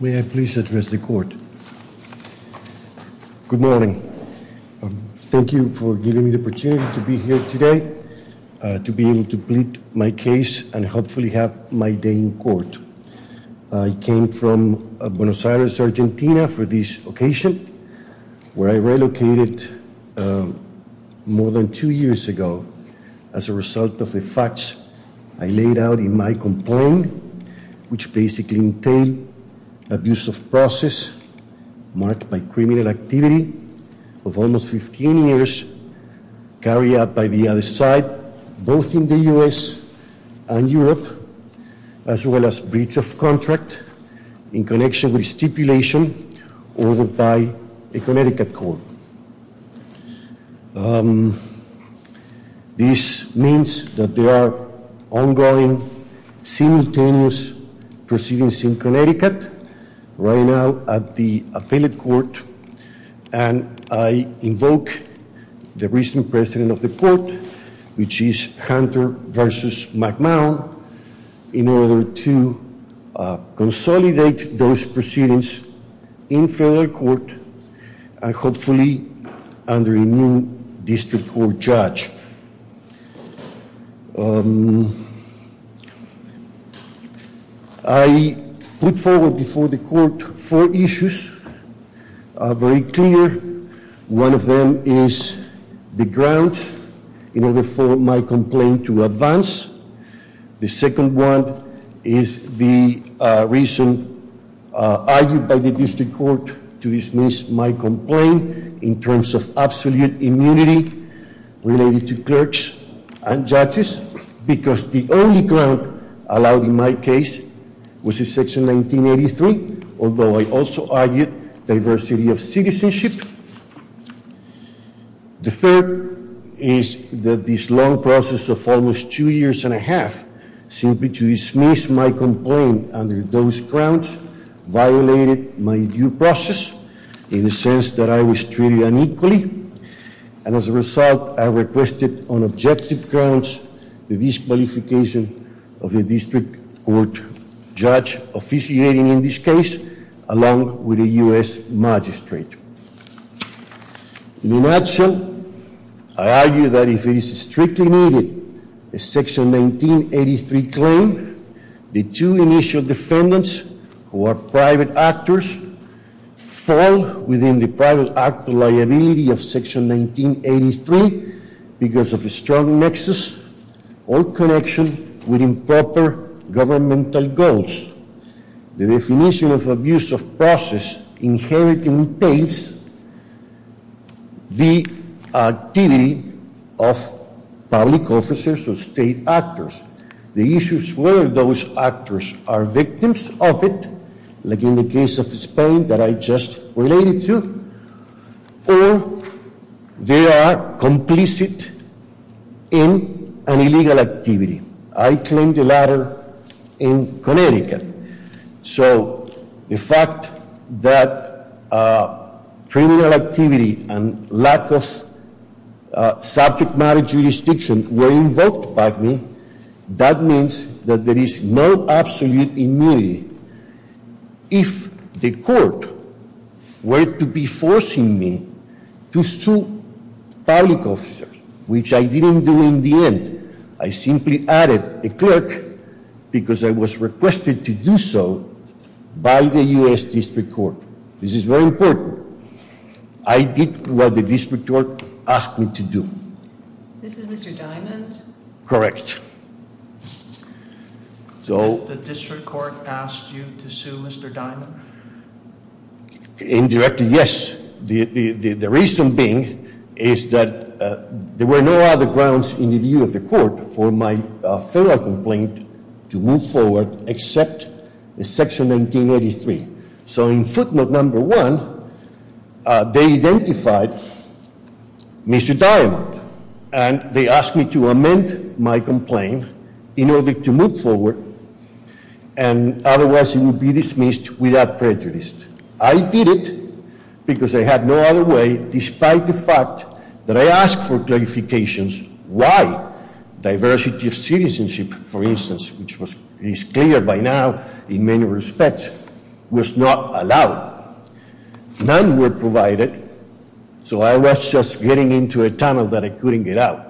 May I please address the Court? Good morning. Thank you for giving me the opportunity to be here today to be able to complete my case and hopefully have my day in court. I came from Buenos Aires, Argentina for this occasion, where I relocated more than two years ago as a result of the facts I laid out in my complaint, which basically entail abuse of process marked by criminal activity of almost 15 years carried out by the other side, both in the U.S. and Europe, as well as breach of contract in connection with stipulation ordered by a Connecticut court. This means that there are ongoing simultaneous proceedings in Connecticut right now at the appellate court, and I invoke the recent President of the Court, which is Hunter v. McMahon, in order to consolidate those proceedings in federal court and hopefully under a new district court judge. I put forward before the Court four issues, very clear. One of them is the grounds in order for my complaint to advance. The second one is the reason argued by the district court to dismiss my complaint in terms of absolute immunity related to clerks and judges, because the only ground allowed in my case was in Section 1983, although I also argued diversity of citizenship. The third is that this long process of almost two years and a half simply to dismiss my complaint under those grounds violated my due process, in the sense that I was treated unequally, and as a result I requested on objective grounds the disqualification of a district court judge officiating in this case, along with a U.S. magistrate. In action, I argue that if it is strictly needed, a Section 1983 claim, the two initial defendants who are private actors fall within the private actor liability of Section 1983 because of a strong nexus or connection with improper governmental goals. The definition of abuse of process inherently entails the activity of public officers or state actors. The issue is whether those actors are victims of it, like in the case of Spain that I just related to, or they are complicit in an illegal activity. I claim the latter in Connecticut. So the fact that criminal activity and lack of subject matter jurisdiction were invoked by me, that means that there is no absolute immunity. If the court were to be forcing me to sue public officers, which I didn't do in the end, I simply added a clerk because I was requested to do so by the U.S. District Court. This is very important. I did what the District Court asked me to do. This is Mr. Diamond? Correct. The District Court asked you to sue Mr. Diamond? Indirectly, yes. The reason being is that there were no other grounds in the view of the court for my federal complaint to move forward except Section 1983. So in footnote number one, they identified Mr. Diamond, and they asked me to amend my complaint in order to move forward, and otherwise he would be dismissed without prejudice. I did it because I had no other way, despite the fact that I asked for clarifications why diversity of citizenship, for instance, which is clear by now in many respects, was not allowed. None were provided, so I was just getting into a tunnel that I couldn't get out.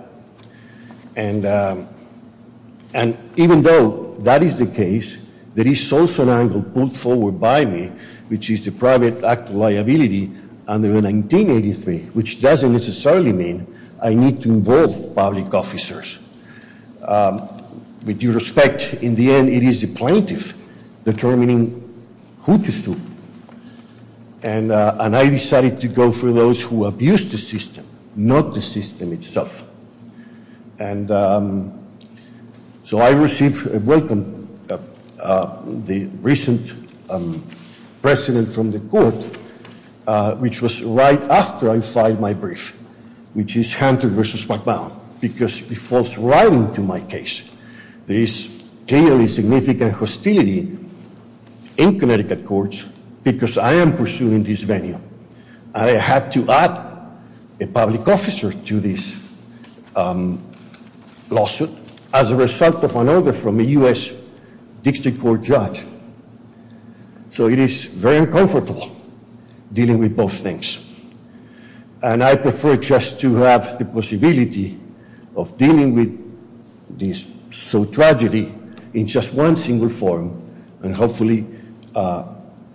And even though that is the case, there is also an angle pulled forward by me, which is the private act of liability under 1983, which doesn't necessarily mean I need to involve public officers. With due respect, in the end it is the plaintiff determining who to sue. And I decided to go for those who abused the system, not the system itself. And so I received a welcome, the recent precedent from the court, which was right after I filed my brief, which is Hunter v. MacMahon, because it falls right into my case. There is clearly significant hostility in Connecticut courts because I am pursuing this venue. I had to add a public officer to this lawsuit as a result of an order from a U.S. District Court judge. So it is very uncomfortable dealing with both things. And I prefer just to have the possibility of dealing with this tragedy in just one single forum and hopefully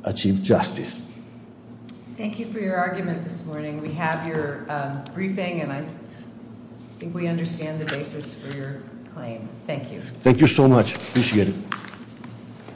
achieve justice. Thank you for your argument this morning. We have your briefing, and I think we understand the basis for your claim. Thank you. Thank you so much. Appreciate it.